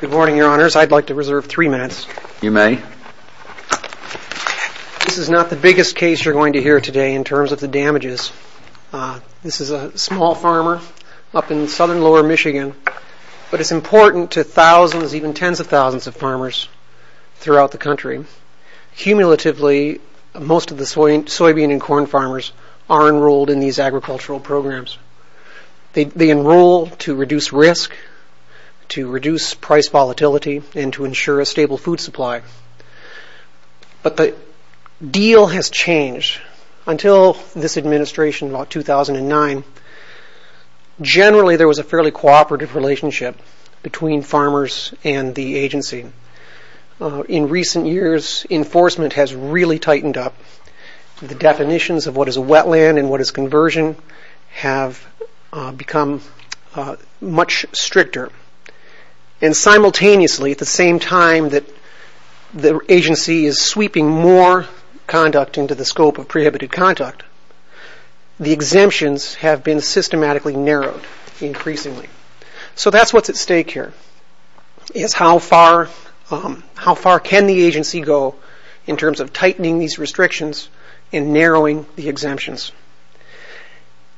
Good morning your honors, I'd like to reserve three minutes. You may. This is not the biggest case you're going to hear today in terms of the damages. This is a small farmer up in lower Michigan, but it's important to thousands, even tens of thousands of farmers throughout the country. Cumulatively, most of the soybean and corn farmers are enrolled in these agricultural programs. They enroll to reduce risk, to reduce price volatility, and to ensure a stable food supply. But the deal has changed. Until this administration in 2009, generally there was a fairly cooperative relationship between farmers and the agency. In recent years, enforcement has really tightened up. The definitions of what is a wetland and what is conversion have become much stricter. And simultaneously, at the same time that the agency is sweeping more conduct into the scope of prohibited conduct, the exemptions have been systematically narrowed increasingly. So that's what's at stake here, is how far can the agency go in terms of tightening these restrictions and narrowing the exemptions.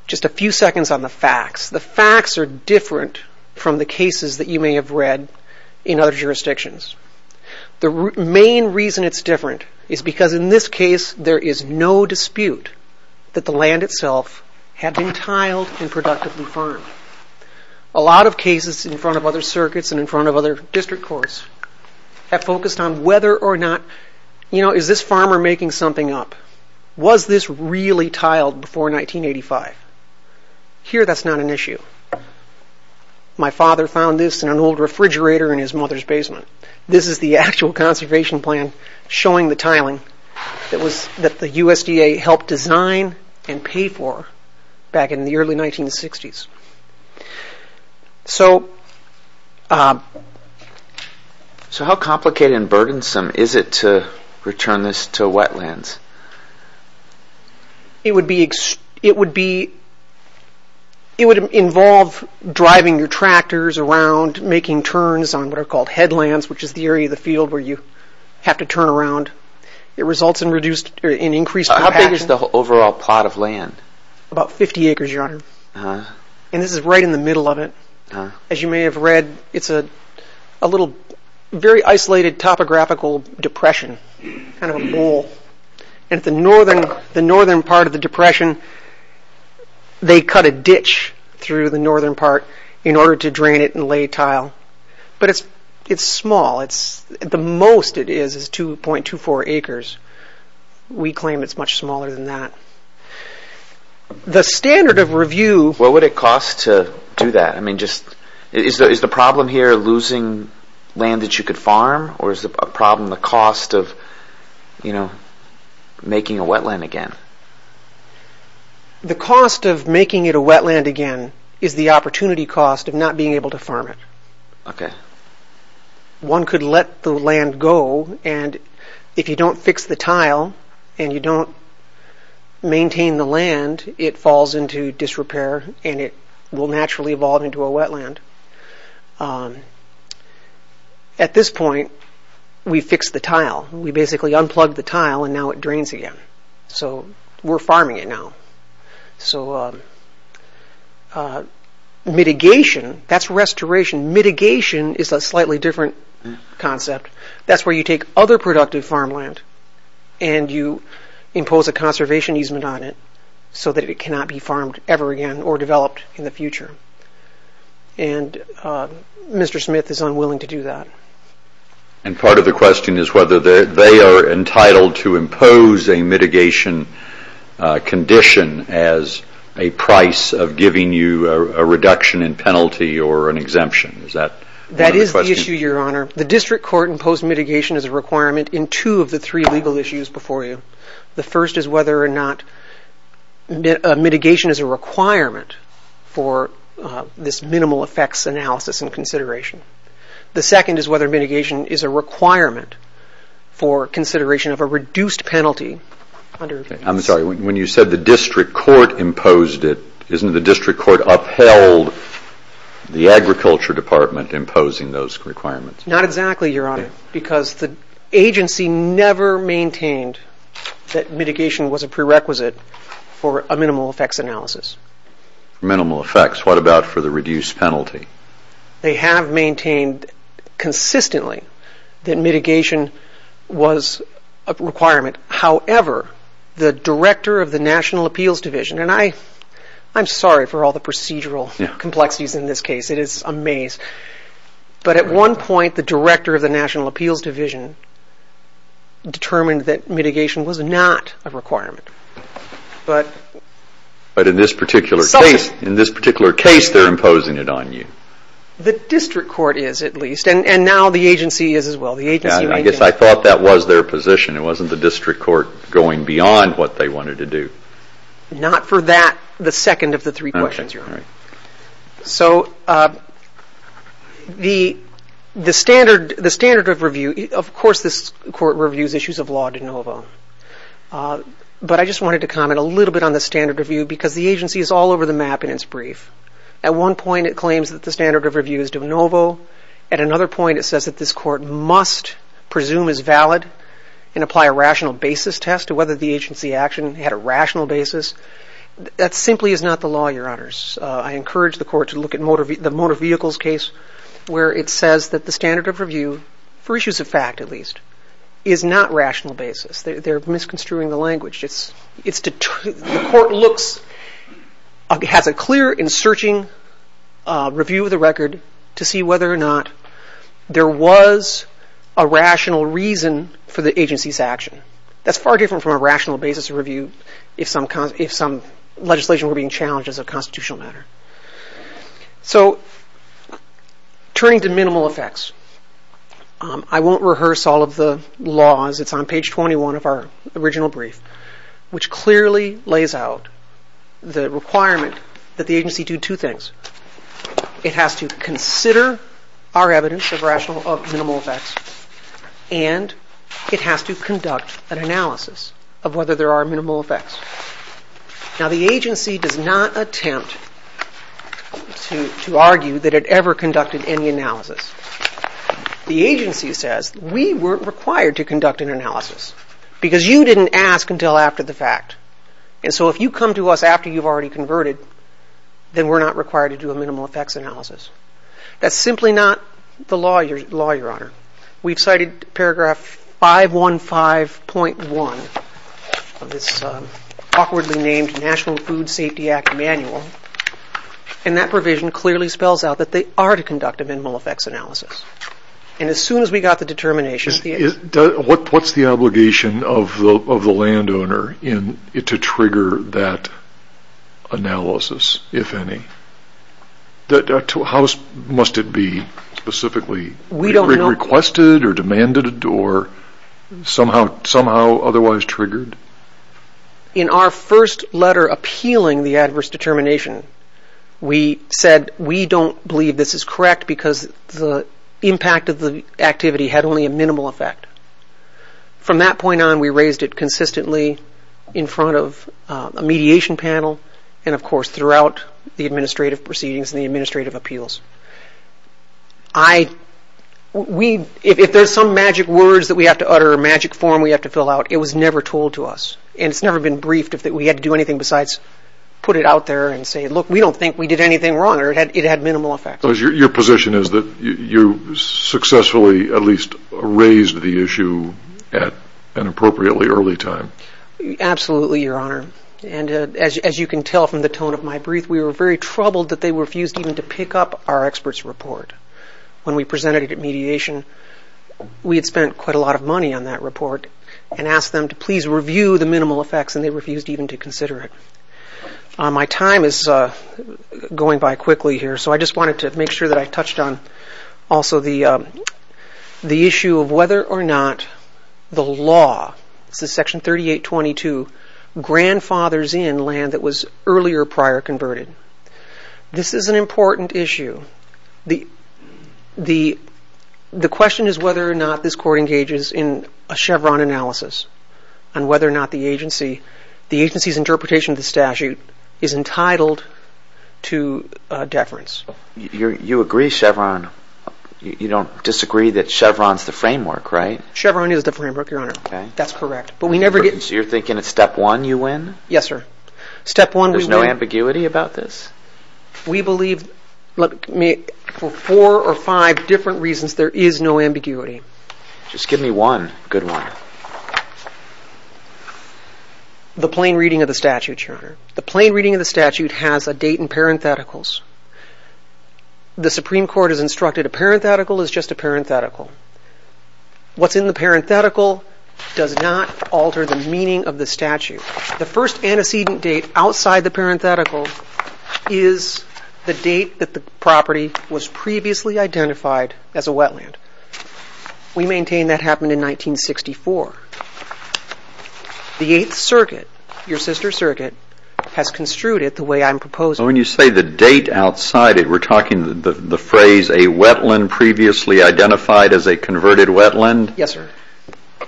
Just a few seconds on the facts. The facts are different from the cases that you may have read in other jurisdictions. The main reason it's different is because in this case there is no dispute that the land itself had been tiled and productively farmed. A lot of cases in front of other circuits and in front of other district courts have focused on whether or not, you know, is this farmer making something up? Was this really tiled before 1985? Here that's not an issue. My father found this in an old refrigerator in his mother's basement. This is the actual conservation plan showing the tiling that the USDA helped design and pay for back in the early 1960s. So how complicated and burdensome is it to return this to wetlands? It would involve driving your tractors around, making turns on what are called headlands, which is the area of the field where you have to turn around. It results in increased compaction. How big is the overall plot of land? About 50 acres, your honor. And this is right in the middle of it. As you may have read, it's a little, very isolated topographical depression, kind of a bowl. And at the northern part of the depression, they cut a ditch through the most it is, is 2.24 acres. We claim it's much smaller than that. The standard of review... What would it cost to do that? I mean, is the problem here losing land that you could farm? Or is the problem the cost of, you know, making a wetland again? The cost of making it a wetland again is the opportunity cost of not being able to farm it. Okay. One could let the land go and if you don't fix the tile and you don't maintain the land, it falls into disrepair and it will naturally evolve into a wetland. At this point, we fixed the tile. We basically unplugged the tile and now it drains again. So we're farming it now. Mitigation, that's restoration. Mitigation is a slightly different concept. That's where you take other productive farmland and you impose a conservation easement on it so that it cannot be farmed ever again or developed in the future. And Mr. Smith is unwilling to do that. And part of the question is whether they are entitled to impose a mitigation condition as a price of giving you a reduction in penalty or an exemption. Is that the question? That is the issue, Your Honor. The district court imposed mitigation as a requirement in two of the three legal issues before you. The first is whether or not mitigation is a requirement for this minimal effects analysis and consideration. The second is whether mitigation is a requirement for consideration of a reduced penalty. I'm sorry, when you said the district court imposed it, isn't the district court upheld the agriculture department imposing those requirements? Not exactly, Your Honor, because the agency never maintained that mitigation was a prerequisite for a minimal effects analysis. For minimal effects, what about for the reduced penalty? They have maintained consistently that mitigation was a requirement. However, the director of the National Appeals Division, and I'm sorry for all the procedural complexities in this case. It is a maze. But at one point, the director of the National Appeals Division determined that mitigation was not a requirement. But in this particular case, they are imposing it on you. The district court is at least, and now the agency is as well. I guess I thought that was their position. It wasn't the district court going beyond what they wanted to do. Not for that, the second of the three questions, Your Honor. So the standard of review, of course, this court reviews issues of law de novo. But I just wanted to comment a little bit on the standard review because the agency is all over the map in its brief. At one point, it claims that the standard of review is de novo. At another point, it says that this court must presume is valid and apply a rational basis test to whether the agency action had a rational basis. That simply is not the law, Your Honors. I encourage the court to look at the motor vehicles case where it says that the standard of review, for issues of fact at least, is not rational basis. They're misconstruing the language. The court has a clear and searching review of the record to see whether or not there was a rational reason for the agency's action. That's far different from a rational basis review if some legislation were being challenged as a constitutional matter. So turning to minimal effects, I won't rehearse all of the laws. It's on page 21 of our original brief, which clearly lays out the requirement that the agency do two things. It has to consider our evidence of minimal effects and it has to conduct an analysis of whether there are minimal effects. Now, the agency does not attempt to argue that it ever conducted any analysis. The agency says we weren't required to conduct an analysis because you didn't ask until after the fact. And so if you come to us after you've already converted, then we're not required to do minimal effects analysis. That's simply not the law, Your Honor. We've cited paragraph 515.1 of this awkwardly named National Food Safety Act manual. And that provision clearly spells out that they are to conduct a minimal effects analysis. And as soon as we got the determination... What's the obligation of the landowner to trigger that analysis, if any? How must it be specifically requested or demanded or somehow otherwise triggered? In our first letter appealing the adverse determination, we said we don't believe this is correct because the impact of the activity had only a minimal effect. From that point on, we raised it consistently in front of a mediation panel and, of course, throughout the administrative proceedings and the administrative appeals. If there's some magic words that we have to utter or magic form we have to fill out, it was never told to us. And it's never been briefed that we had to do anything besides put it out there and say, look, we don't think we did anything wrong or it had minimal effects. Your position is that you successfully at least raised the issue at an appropriately early time? Absolutely, Your Honor. And as you can tell from the tone of my brief, we were very troubled that they refused even to pick up our expert's report. When we presented it at mediation, we had spent quite a lot of money on that report and asked them to please review the minimal effects and they refused even to consider it. My time is going by quickly here, so I just wanted to make sure that I touched on also the issue of whether or not the law, this is Section 3822, grandfather's in land that was earlier prior converted. This is an important issue. The question is whether or not this court engages in a Chevron analysis on whether or not the interpretation of the statute is entitled to deference. You agree Chevron, you don't disagree that Chevron's the framework, right? Chevron is the framework, Your Honor. That's correct. You're thinking it's step one you win? Yes, sir. Step one. There's no ambiguity about this? We believe for four or five different reasons, there is no ambiguity. Just give me one good one. The plain reading of the statute, Your Honor. The plain reading of the statute has a date in parentheticals. The Supreme Court has instructed a parenthetical is just a parenthetical. What's in the parenthetical does not alter the meaning of the statute. The first antecedent date outside the parenthetical is the date that the property was previously identified as a wetland. We maintain that happened in 1964. The Eighth Circuit, your sister's circuit, has construed it the way I'm proposing. When you say the date outside it, we're talking the phrase a wetland previously identified as a converted wetland? Yes, sir.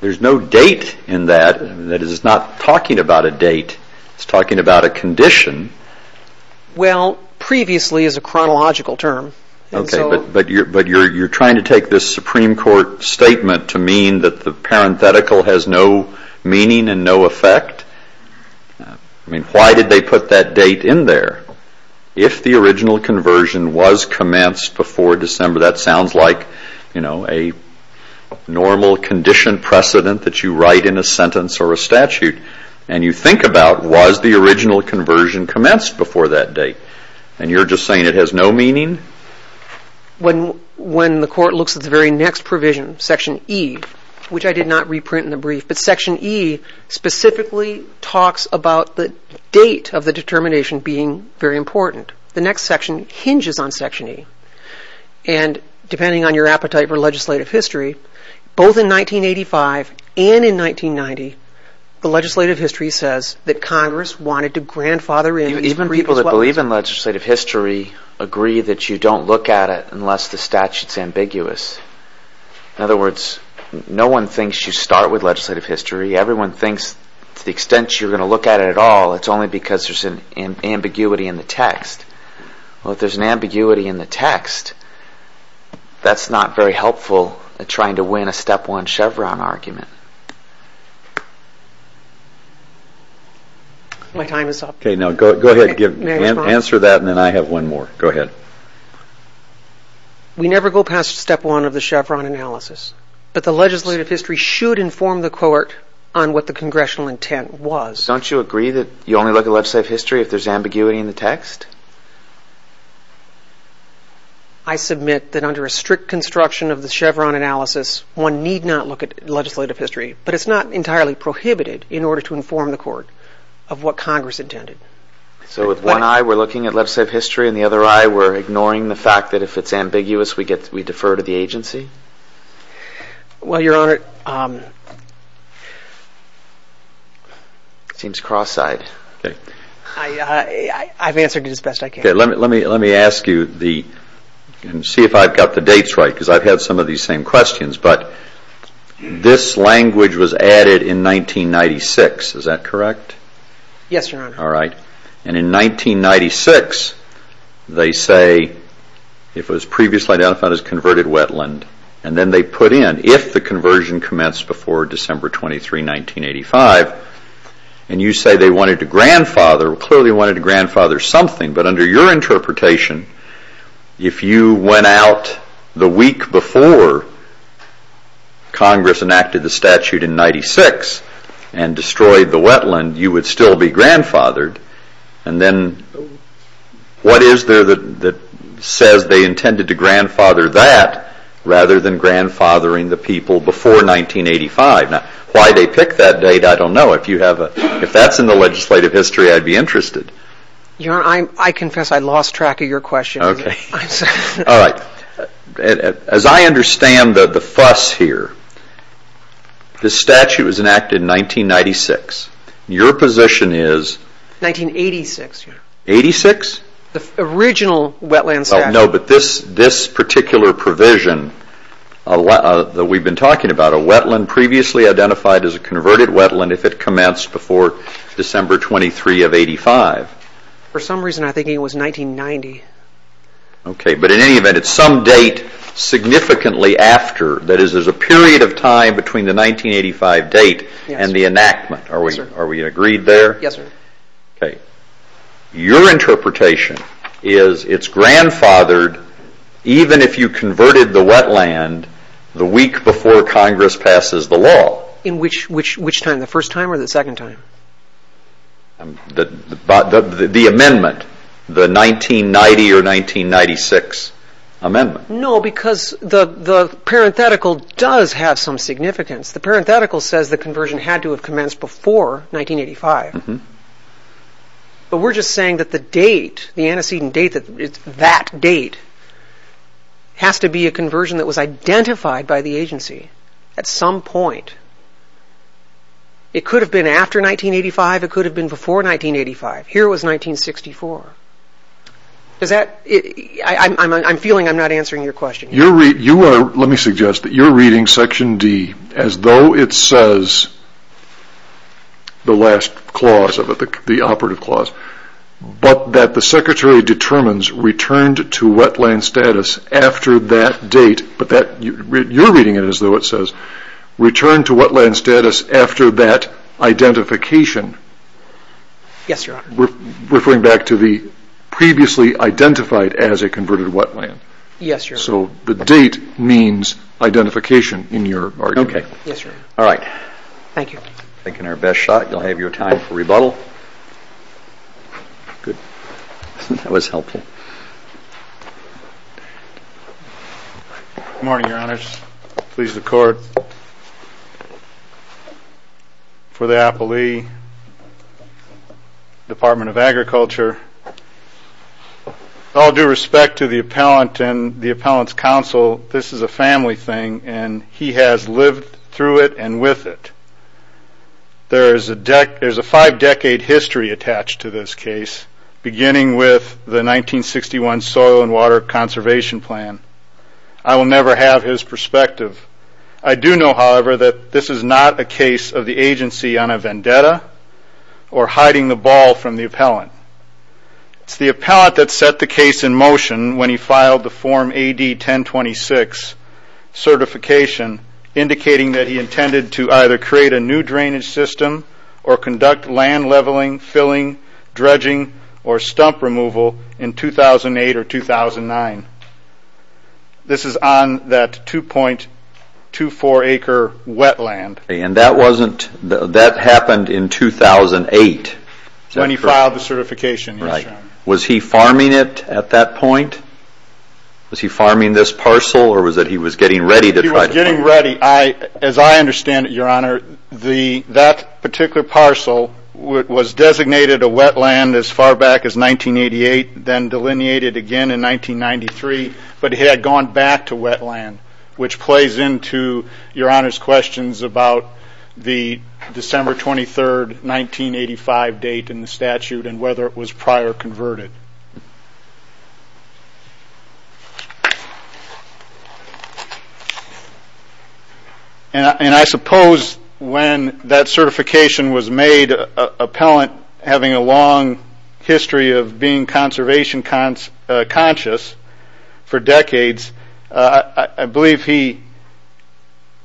There's no date in that. That is not talking about a date. It's talking about a condition. Well, previously is a chronological term. Okay, but you're trying to take this Supreme Court statement to mean that the parenthetical has no meaning and no effect? I mean, why did they put that date in there? If the original conversion was commenced before December, that sounds like, you know, a normal condition precedent that you write in a sentence or a statute. And you think about was the original conversion commenced before that date? And you're just saying it has no meaning? When the court looks at the very next provision, Section E, which I did not reprint in the brief, but Section E specifically talks about the date of the determination being very important. The next section hinges on Section E. And depending on your appetite for legislative history, both in 1985 and in 1990, the legislative history says that Congress wanted to grandfather in... Even people that believe in legislative history agree that you don't look at it unless the statute's ambiguous. In other words, no one thinks you start with legislative history. Everyone thinks to the extent you're going to look at it at all, it's only because there's an ambiguity in the text. Well, if there's an ambiguity in the text, that's not very helpful at trying to win a step one Chevron argument. My time is up. Okay, now go ahead and answer that, and then I have one more. Go ahead. We never go past step one of the Chevron analysis, but the legislative history should inform the court on what the congressional intent was. Don't you agree that you only look at legislative history if there's ambiguity in the text? I submit that under a strict construction of the Chevron analysis, one need not look at legislative history, but it's not entirely prohibited in order to inform the court of what Congress intended. So with one eye, we're looking at legislative history, and the other eye, we're ignoring the fact that if it's ambiguous, we defer to the agency? Well, Your Honor, it seems cross-eyed. I've answered it as best I can. Okay, let me ask you, and see if I've got the dates right, because I've had some of these same questions, but this language was added in 1996. Is that correct? Yes, Your Honor. All right. And in 1996, they say, if it was previously identified as converted wetland, and then they put in, if the conversion commenced before December 23, 1985, and you say they wanted to grandfather, clearly wanted to grandfather something, but under your interpretation, if you went out the week before Congress enacted the statute in 96 and destroyed the wetland, you would still be grandfathered. And then what is there that says they intended to grandfather that rather than grandfathering the people before 1985? Now, why they pick that date, I don't know. If you have a, if that's in the legislative history, I'd be interested. Your Honor, I confess I lost track of your question. Okay. All right. As I understand the fuss here, the statute was enacted in 1996. Your position is... 1986, Your Honor. 86? The original wetland statute. No, but this particular provision that we've been talking about, a wetland previously identified as a converted wetland if it commenced before December 23 of 85. For some reason, I think it was 1990. Okay, but in any event, it's some date significantly after, that is, there's a period of time between the 1985 date and the enactment. Are we agreed there? Yes, sir. Okay. Your interpretation is it's grandfathered even if you converted the wetland the week before Congress passes the law. In which time? The first time or the second time? The amendment, the 1990 or 1996 amendment. No, because the parenthetical does have some significance. The parenthetical says the conversion had to have commenced before 1985. But we're just saying that the date, the antecedent date, that date has to be a conversion that was identified by the agency at some point. It could have been after 1985. It could have been before 1985. Here it was 1964. Does that... I'm feeling I'm not answering your question. Let me suggest that you're reading section D as though it says the last clause of it, the operative clause, but that the secretary determines returned to wetland status after that date, but that you're reading it as though it says returned to wetland status after that identification. Yes, Your Honor. Referring back to the previously identified as a converted wetland. Yes, Your Honor. So the date means identification in your argument. All right. Thank you. Taking our best shot. You'll have your time for rebuttal. Good. That was helpful. Good morning, Your Honors. Please, the court. For the appellee, Department of Agriculture, all due respect to the appellant and the appellant's counsel, this is a family thing and he has lived through it and with it. There's a five decade history attached to this case, beginning with the 1961 Soil and Water Conservation Plan. I will never have his perspective. I do know, however, that this is not a case of the agency on a vendetta or hiding the ball from the appellant. It's the appellant that set the case in motion when he filed the Form AD-1026 certification, indicating that he intended to either create a new drainage system or conduct land leveling, filling, dredging, or stump removal in 2008 or 2009. This is on that 2.24 acre wetland. That happened in 2008. When he filed the certification. Right. Was he farming it at that point? Was he farming this parcel or was that he was getting ready? He was getting ready. As I understand it, Your Honor, that particular parcel was designated a wetland as far back as 1988, then delineated again in 1993, but he had gone back to wetland, which plays into Your Honor's questions about the December 23rd, 1985 date in the statute and whether it was prior converted. And I suppose when that certification was made appellant having a long history of being conservation conscious for decades, I believe he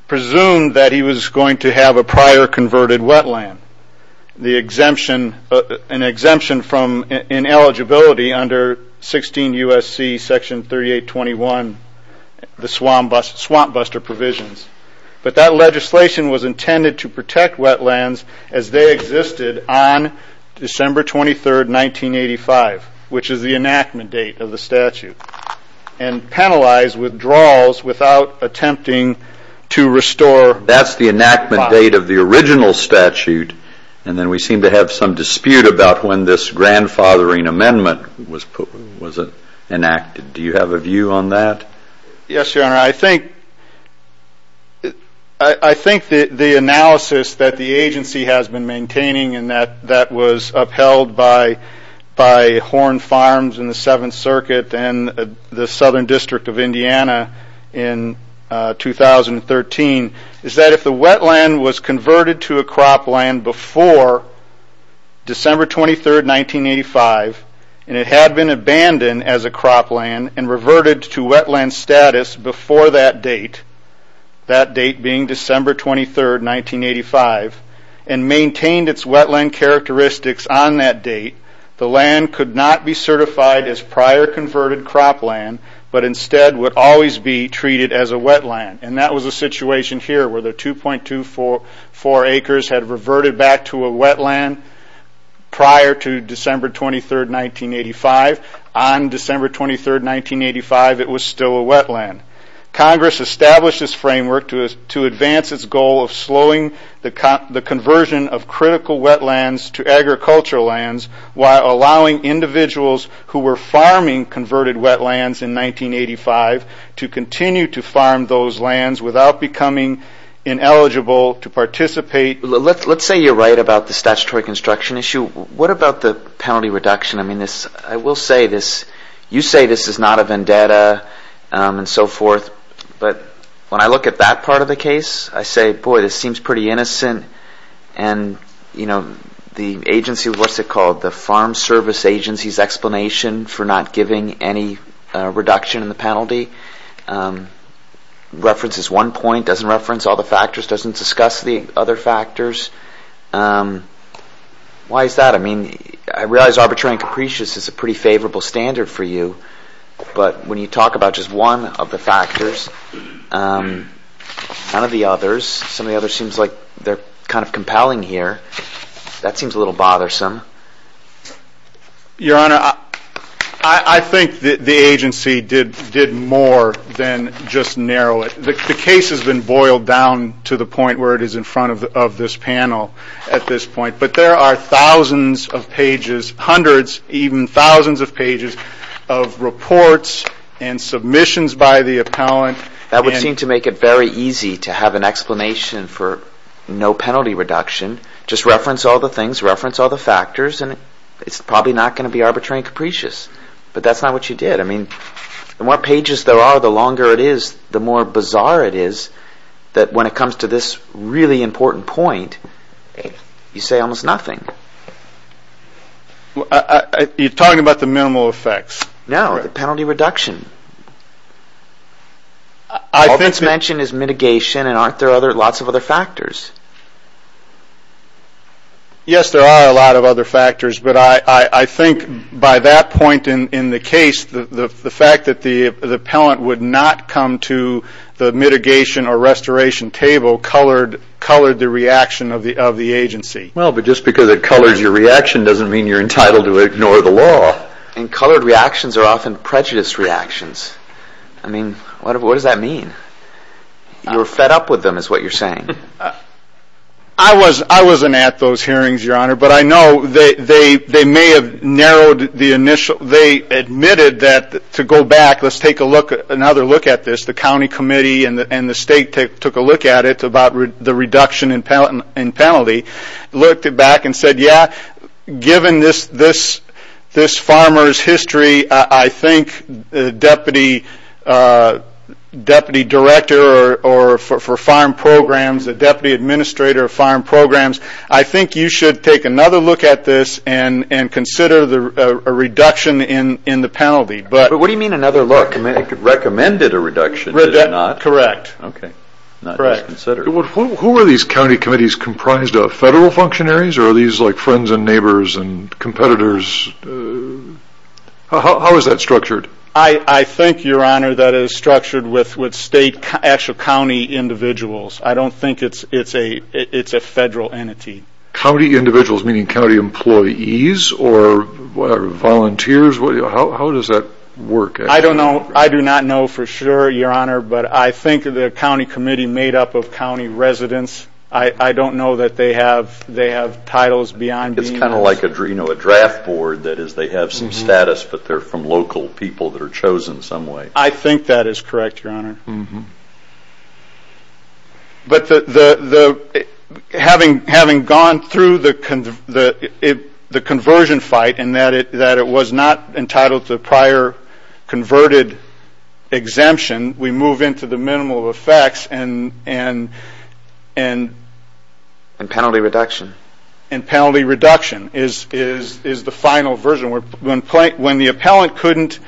presumed that he was going to have a prior converted wetland. The exemption, an exemption from ineligibility under 16 USC section 3821, the swamp buster provisions, but that legislation was intended to protect wetlands as they existed on December 23rd, 1985, which is the enactment date of the statute and penalize withdrawals without attempting to restore. That's the enactment date of the original statute. And then we seem to have some dispute about when this grandfathering amendment was enacted. Do you have a view on that? Yes, Your Honor. I think the analysis that the agency has been maintaining and that was upheld by Horn Farms and the Seventh Circuit and the Southern District of Indiana in 2013 is that if the wetland was converted to a cropland before December 23rd, 1985, and it had been abandoned as a cropland and reverted to wetland status before that date, that date being December 23rd, 1985, and maintained its wetland characteristics on that date, the land could not be certified as prior converted cropland, but instead would always be treated as a wetland. And that was a situation here where the 2.24 acres had reverted back to a wetland prior to December 23rd, 1985. On December 23rd, 1985, it was still a wetland. Congress established this framework to advance its goal of slowing the conversion of critical wetlands to agricultural lands while allowing individuals who were farming converted wetlands in 1985 to continue to farm those lands without becoming ineligible to participate. Let's say you're right about the statutory construction issue. What about the penalty reduction? I mean, this, I will say this, you say this is not a vendetta and so forth, but when I look at that part of the case, I say, boy, this seems pretty innocent. And, you know, the agency, what's it called? The Farm Service Agency's explanation for not giving any reduction in the penalty and references one point, doesn't reference all the factors, doesn't discuss the other factors. Why is that? I mean, I realize arbitrary and capricious is a pretty favorable standard for you. But when you talk about just one of the factors, none of the others, some of the others seems like they're kind of compelling here. That seems a little bothersome. Your Honor, I think the agency did more than just narrow it. The case has been boiled down to the point where it is in front of this panel at this point. But there are thousands of pages, hundreds, even thousands of pages of reports and submissions by the appellant. That would seem to make it very easy to have an explanation for no penalty reduction. Just reference all the things, reference all the factors, and it's probably not going to be arbitrary and capricious. But that's not what you did. I mean, the more pages there are, the longer it is, the more bizarre it is that when it comes to this really important point, you say almost nothing. You're talking about the minimal effects? No, the penalty reduction. All that's mentioned is mitigation and aren't there lots of other factors? Yes, there are a lot of other factors. But I think by that point in the case, the fact that the appellant would not come to the mitigation or restoration table colored the reaction of the agency. Well, but just because it colors your reaction doesn't mean you're entitled to ignore the law. And colored reactions are often prejudiced reactions. I mean, what does that mean? You're fed up with them, is what you're saying. I wasn't at those hearings, Your Honor. But I know they may have narrowed the initial. They admitted that to go back, let's take another look at this. The county committee and the state took a look at it about the reduction in penalty. Looked it back and said, yeah, given this farmer's history, I think the deputy director or for farm programs, the deputy administrator of farm programs, I think you should take another look at this and consider a reduction in the penalty. But what do you mean another look? The county committee recommended a reduction, did it not? Correct. Who are these county committees comprised of, federal functionaries or are these like friends and neighbors and competitors? How is that structured? I think, Your Honor, that is structured with state, actual county individuals. I don't think it's a federal entity. County individuals, meaning county employees or volunteers, how does that work? I don't know. I do not know for sure, Your Honor. But I think the county committee made up of county residents. I don't know that they have titles beyond. It's kind of like a draft board. That is, they have some status, but they're from local people that are chosen some way. I think that is correct, Your Honor. But having gone through the conversion fight and that it was not entitled to the prior converted exemption, we move into the minimal effects and penalty reduction is the final version. When the appellant couldn't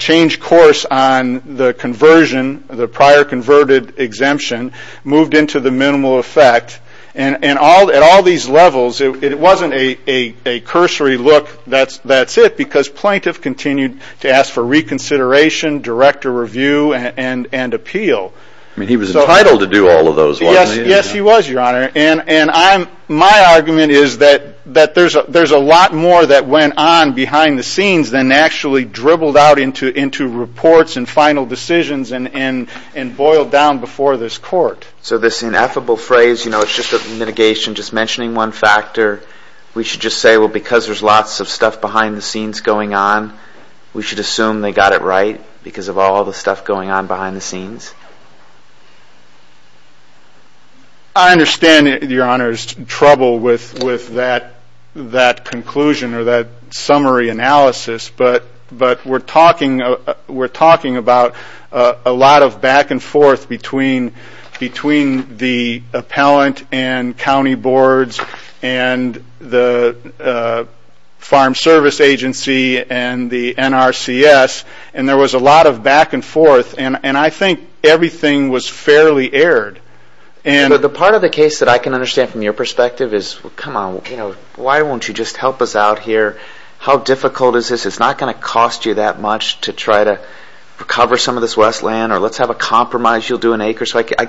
change course on the conversion, the prior converted exemption, moved into the minimal effect. And at all these levels, it wasn't a cursory look, that's it. Because plaintiff continued to ask for reconsideration, director review, and appeal. I mean, he was entitled to do all of those, wasn't he? Yes, he was, Your Honor. And my argument is that there's a lot more that went on behind the scenes than actually dribbled out into reports and final decisions and boiled down before this court. So this ineffable phrase, it's just a mitigation, just mentioning one factor. We should just say, well, because there's lots of stuff behind the scenes going on, because of all the stuff going on behind the scenes? I understand, Your Honor, there's trouble with that conclusion or that summary analysis. But we're talking about a lot of back and forth between the appellant and county boards and the Farm Service Agency and the NRCS. And there was a lot of back and forth. And I think everything was fairly aired. The part of the case that I can understand from your perspective is, well, come on, why won't you just help us out here? How difficult is this? It's not going to cost you that much to try to recover some of this westland. Or let's have a compromise. You'll do an acre. So I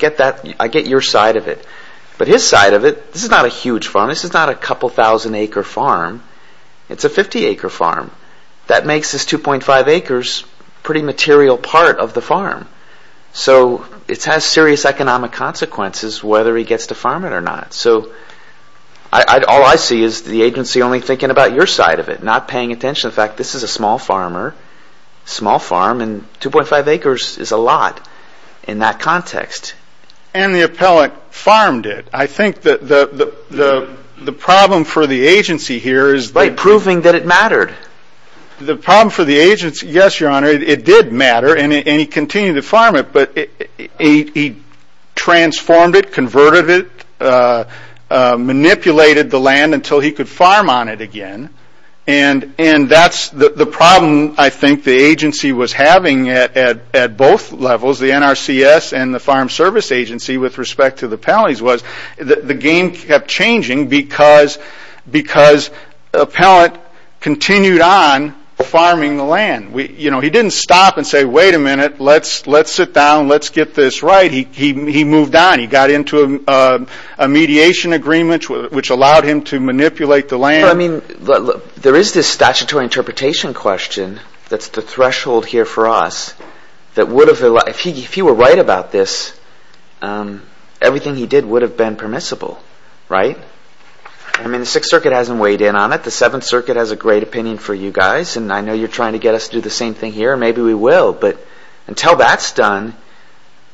get your side of it. But his side of it, this is not a huge farm. This is not a couple thousand acre farm. It's a 50 acre farm. That makes this 2.5 acres a pretty material part of the farm. So it has serious economic consequences, whether he gets to farm it or not. So all I see is the agency only thinking about your side of it, not paying attention. In fact, this is a small farmer, small farm, and 2.5 acres is a lot in that context. And the appellant farmed it. I think that the problem for the agency here by proving that it mattered. The problem for the agency, yes, your honor, it did matter. And he continued to farm it. But he transformed it, converted it, manipulated the land until he could farm on it again. And that's the problem, I think, the agency was having at both levels. The NRCS and the Farm Service Agency with respect to the penalties was the game kept changing because the appellant continued on farming the land. He didn't stop and say, wait a minute, let's sit down, let's get this right. He moved on. He got into a mediation agreement which allowed him to manipulate the land. I mean, there is this statutory interpretation question that's the threshold here for us that if he were right about this, everything he did would have been permissible. Right? I mean, the Sixth Circuit hasn't weighed in on it. The Seventh Circuit has a great opinion for you guys. And I know you're trying to get us to do the same thing here. Maybe we will. But until that's done,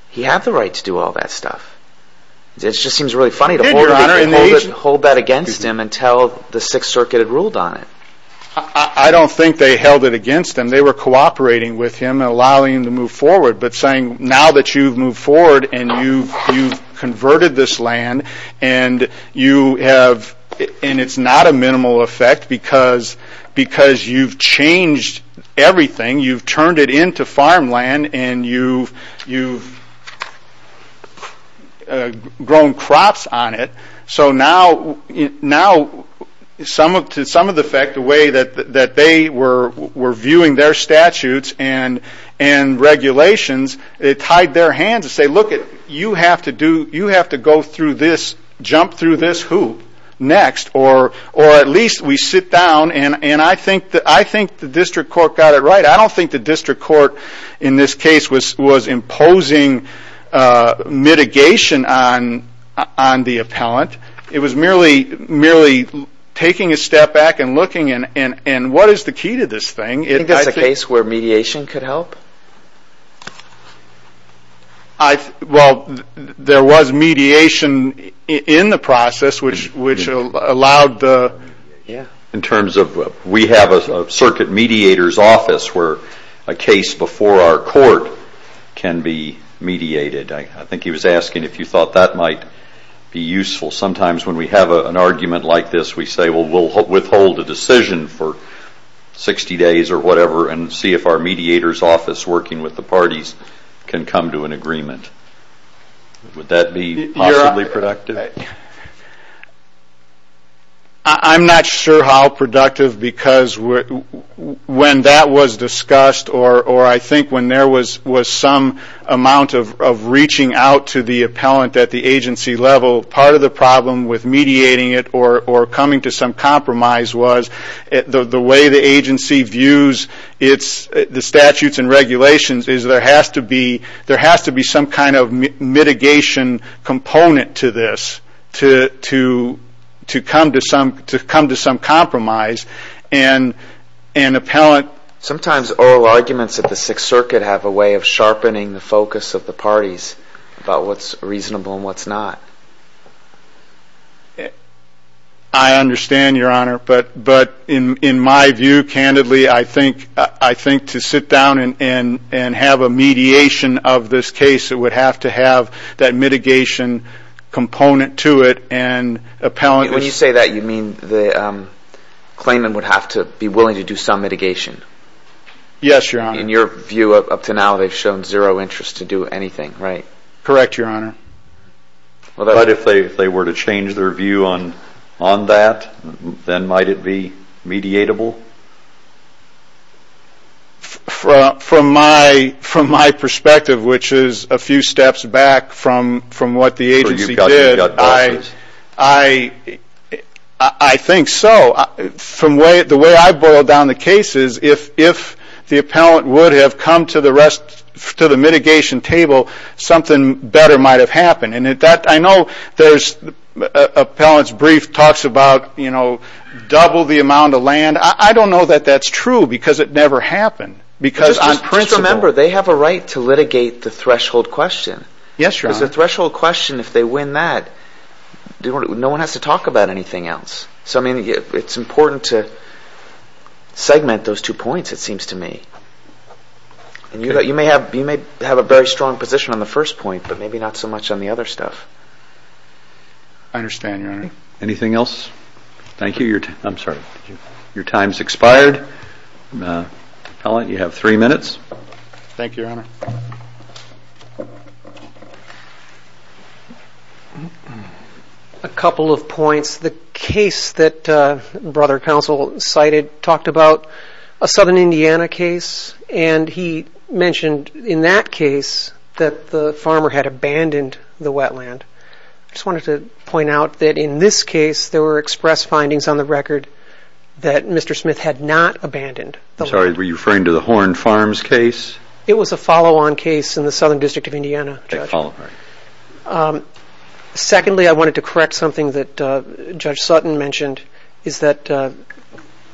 he had the right to do all that stuff. It just seems really funny to hold that against him until the Sixth Circuit had ruled on it. I don't think they held it against him. They were cooperating with him and allowing him to move forward. But saying, now that you've moved forward and you've converted this land and it's not a minimal effect because you've changed everything. You've turned it into farmland and you've grown crops on it. So now, to some of the effect, the way that they were viewing their statutes and regulations, it tied their hands to say, you have to go through this, jump through this hoop next. Or at least we sit down and I think the district court got it right. I don't think the district court in this case was imposing mitigation on the appellant. It was merely taking a step back and looking and what is the key to this thing? Do you think that's a case where mediation could help? Well, there was mediation in the process which allowed the... In terms of, we have a circuit mediator's office where a case before our court can be mediated. I think he was asking if you thought that might be useful. Sometimes when we have an argument like this, we say, well, we'll withhold a decision for 60 days or whatever and see if our mediator's office working with the parties can come to an agreement. Would that be possibly productive? I'm not sure how productive because when that was discussed or I think when there was some amount of reaching out to the appellant at the agency level, part of the problem with mediating it or coming to some compromise was the way the agency views the statutes and regulations is there has to be some kind of mitigation component to this to come to some compromise and appellant... Sometimes oral arguments at the Sixth Circuit have a way of sharpening the focus of the parties about what's reasonable and what's not. I understand, Your Honor, but in my view, candidly, I think to sit down and have a mediation of this case, it would have to have that mitigation component to it and appellant... When you say that, you mean the claimant would have to be willing to do some mitigation? Yes, Your Honor. In your view, up to now, they've shown zero interest to do anything, right? Correct, Your Honor. But if they were to change their view on that, then might it be mediatable? Well, from my perspective, which is a few steps back from what the agency did, I think so. The way I boil down the case is if the appellant would have come to the mitigation table, something better might have happened. And I know there's appellant's brief talks about, you know, double the amount of land. I don't know that that's true because it never happened. Because on principle... Just remember, they have a right to litigate the threshold question. Yes, Your Honor. Because the threshold question, if they win that, no one has to talk about anything else. So, I mean, it's important to segment those two points, it seems to me. And you may have a very strong position on the first point, I understand, Your Honor. Anything else? Thank you. I'm sorry, your time's expired. Appellant, you have three minutes. Thank you, Your Honor. A couple of points. The case that Brother Counsel cited talked about a Southern Indiana case. And he mentioned in that case that the farmer had abandoned the wetland. I just wanted to point out that in this case, there were express findings on the record that Mr. Smith had not abandoned the land. Sorry, were you referring to the Horn Farms case? It was a follow-on case in the Southern District of Indiana, Judge. A follow-on. Secondly, I wanted to correct something that Judge Sutton mentioned, is that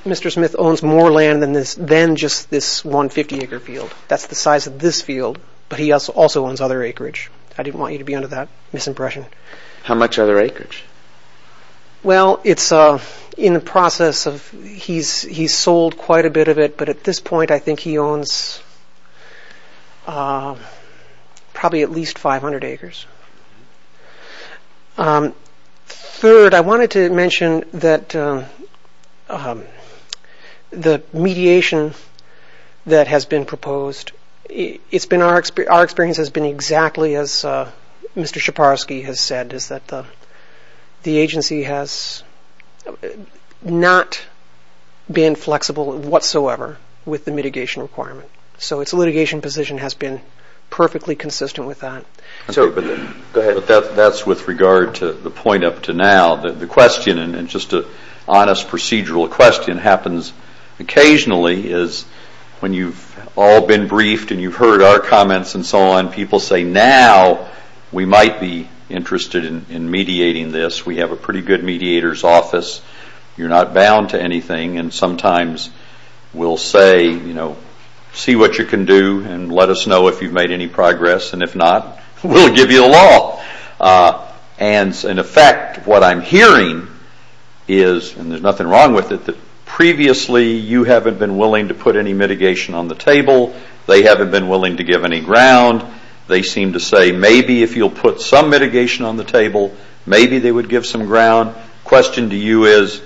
Mr. Smith owns more land than just this 150-acre field. That's the size of this field. But he also owns other acreage. I didn't want you to be under that misimpression. How much other acreage? Well, it's in the process of... He's sold quite a bit of it. But at this point, I think he owns probably at least 500 acres. Third, I wanted to mention that the mediation that has been proposed, our experience has been exactly as Mr. Schaparsky has said, is that the agency has not been flexible whatsoever with the mitigation requirement. So its litigation position has been perfectly consistent with that. That's with regard to the point up to now. The question, and just an honest procedural question, happens occasionally, is when you've all been briefed and you've heard our comments and so on, people say, now we might be interested in mediating this. We have a pretty good mediator's office. You're not bound to anything. And sometimes we'll say, see what you can do and let us know if you've made any progress. And if not, we'll give you a law. In effect, what I'm hearing is, and there's nothing wrong with it, that previously you haven't been willing to put any mitigation on the table. They haven't been willing to give any ground. They seem to say, maybe if you'll put some mitigation on the table, maybe they would give some ground. Question to you is,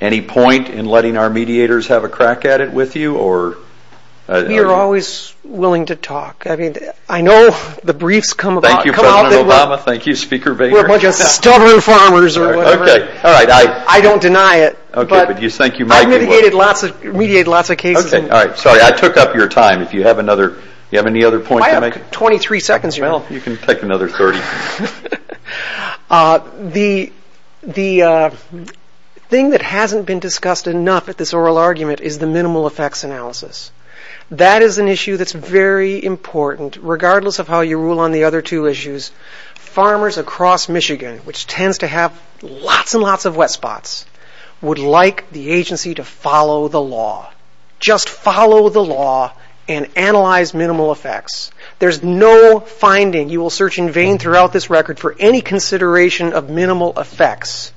any point in letting our mediators have a crack at it with you? You're always willing to talk. I know the briefs come out. Thank you, President Obama. Thank you, Speaker Boehner. We're a bunch of stubborn farmers or whatever. I don't deny it. OK, but you think you might be willing. I've mediated lots of cases. OK, all right. Sorry, I took up your time. You have any other points to make? I have 23 seconds. Well, you can take another 30. The thing that hasn't been discussed enough at this oral argument is the minimal effects analysis. That is an issue that's very important, regardless of how you rule on the other two issues. Farmers across Michigan, would like the agency to follow the law. Just follow the law and analyze minimal effects. There's no finding you will search in vain throughout this record for any consideration of minimal effects.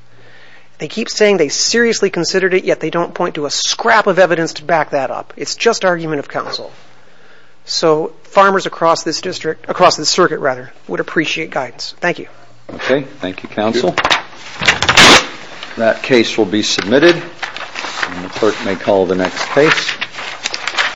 They keep saying they seriously considered it, yet they don't point to a scrap of evidence to back that up. It's just argument of counsel. So farmers across this district, across the circuit, rather, would appreciate guidance. Thank you. OK, thank you, counsel. That case will be submitted. And the clerk may call the next case.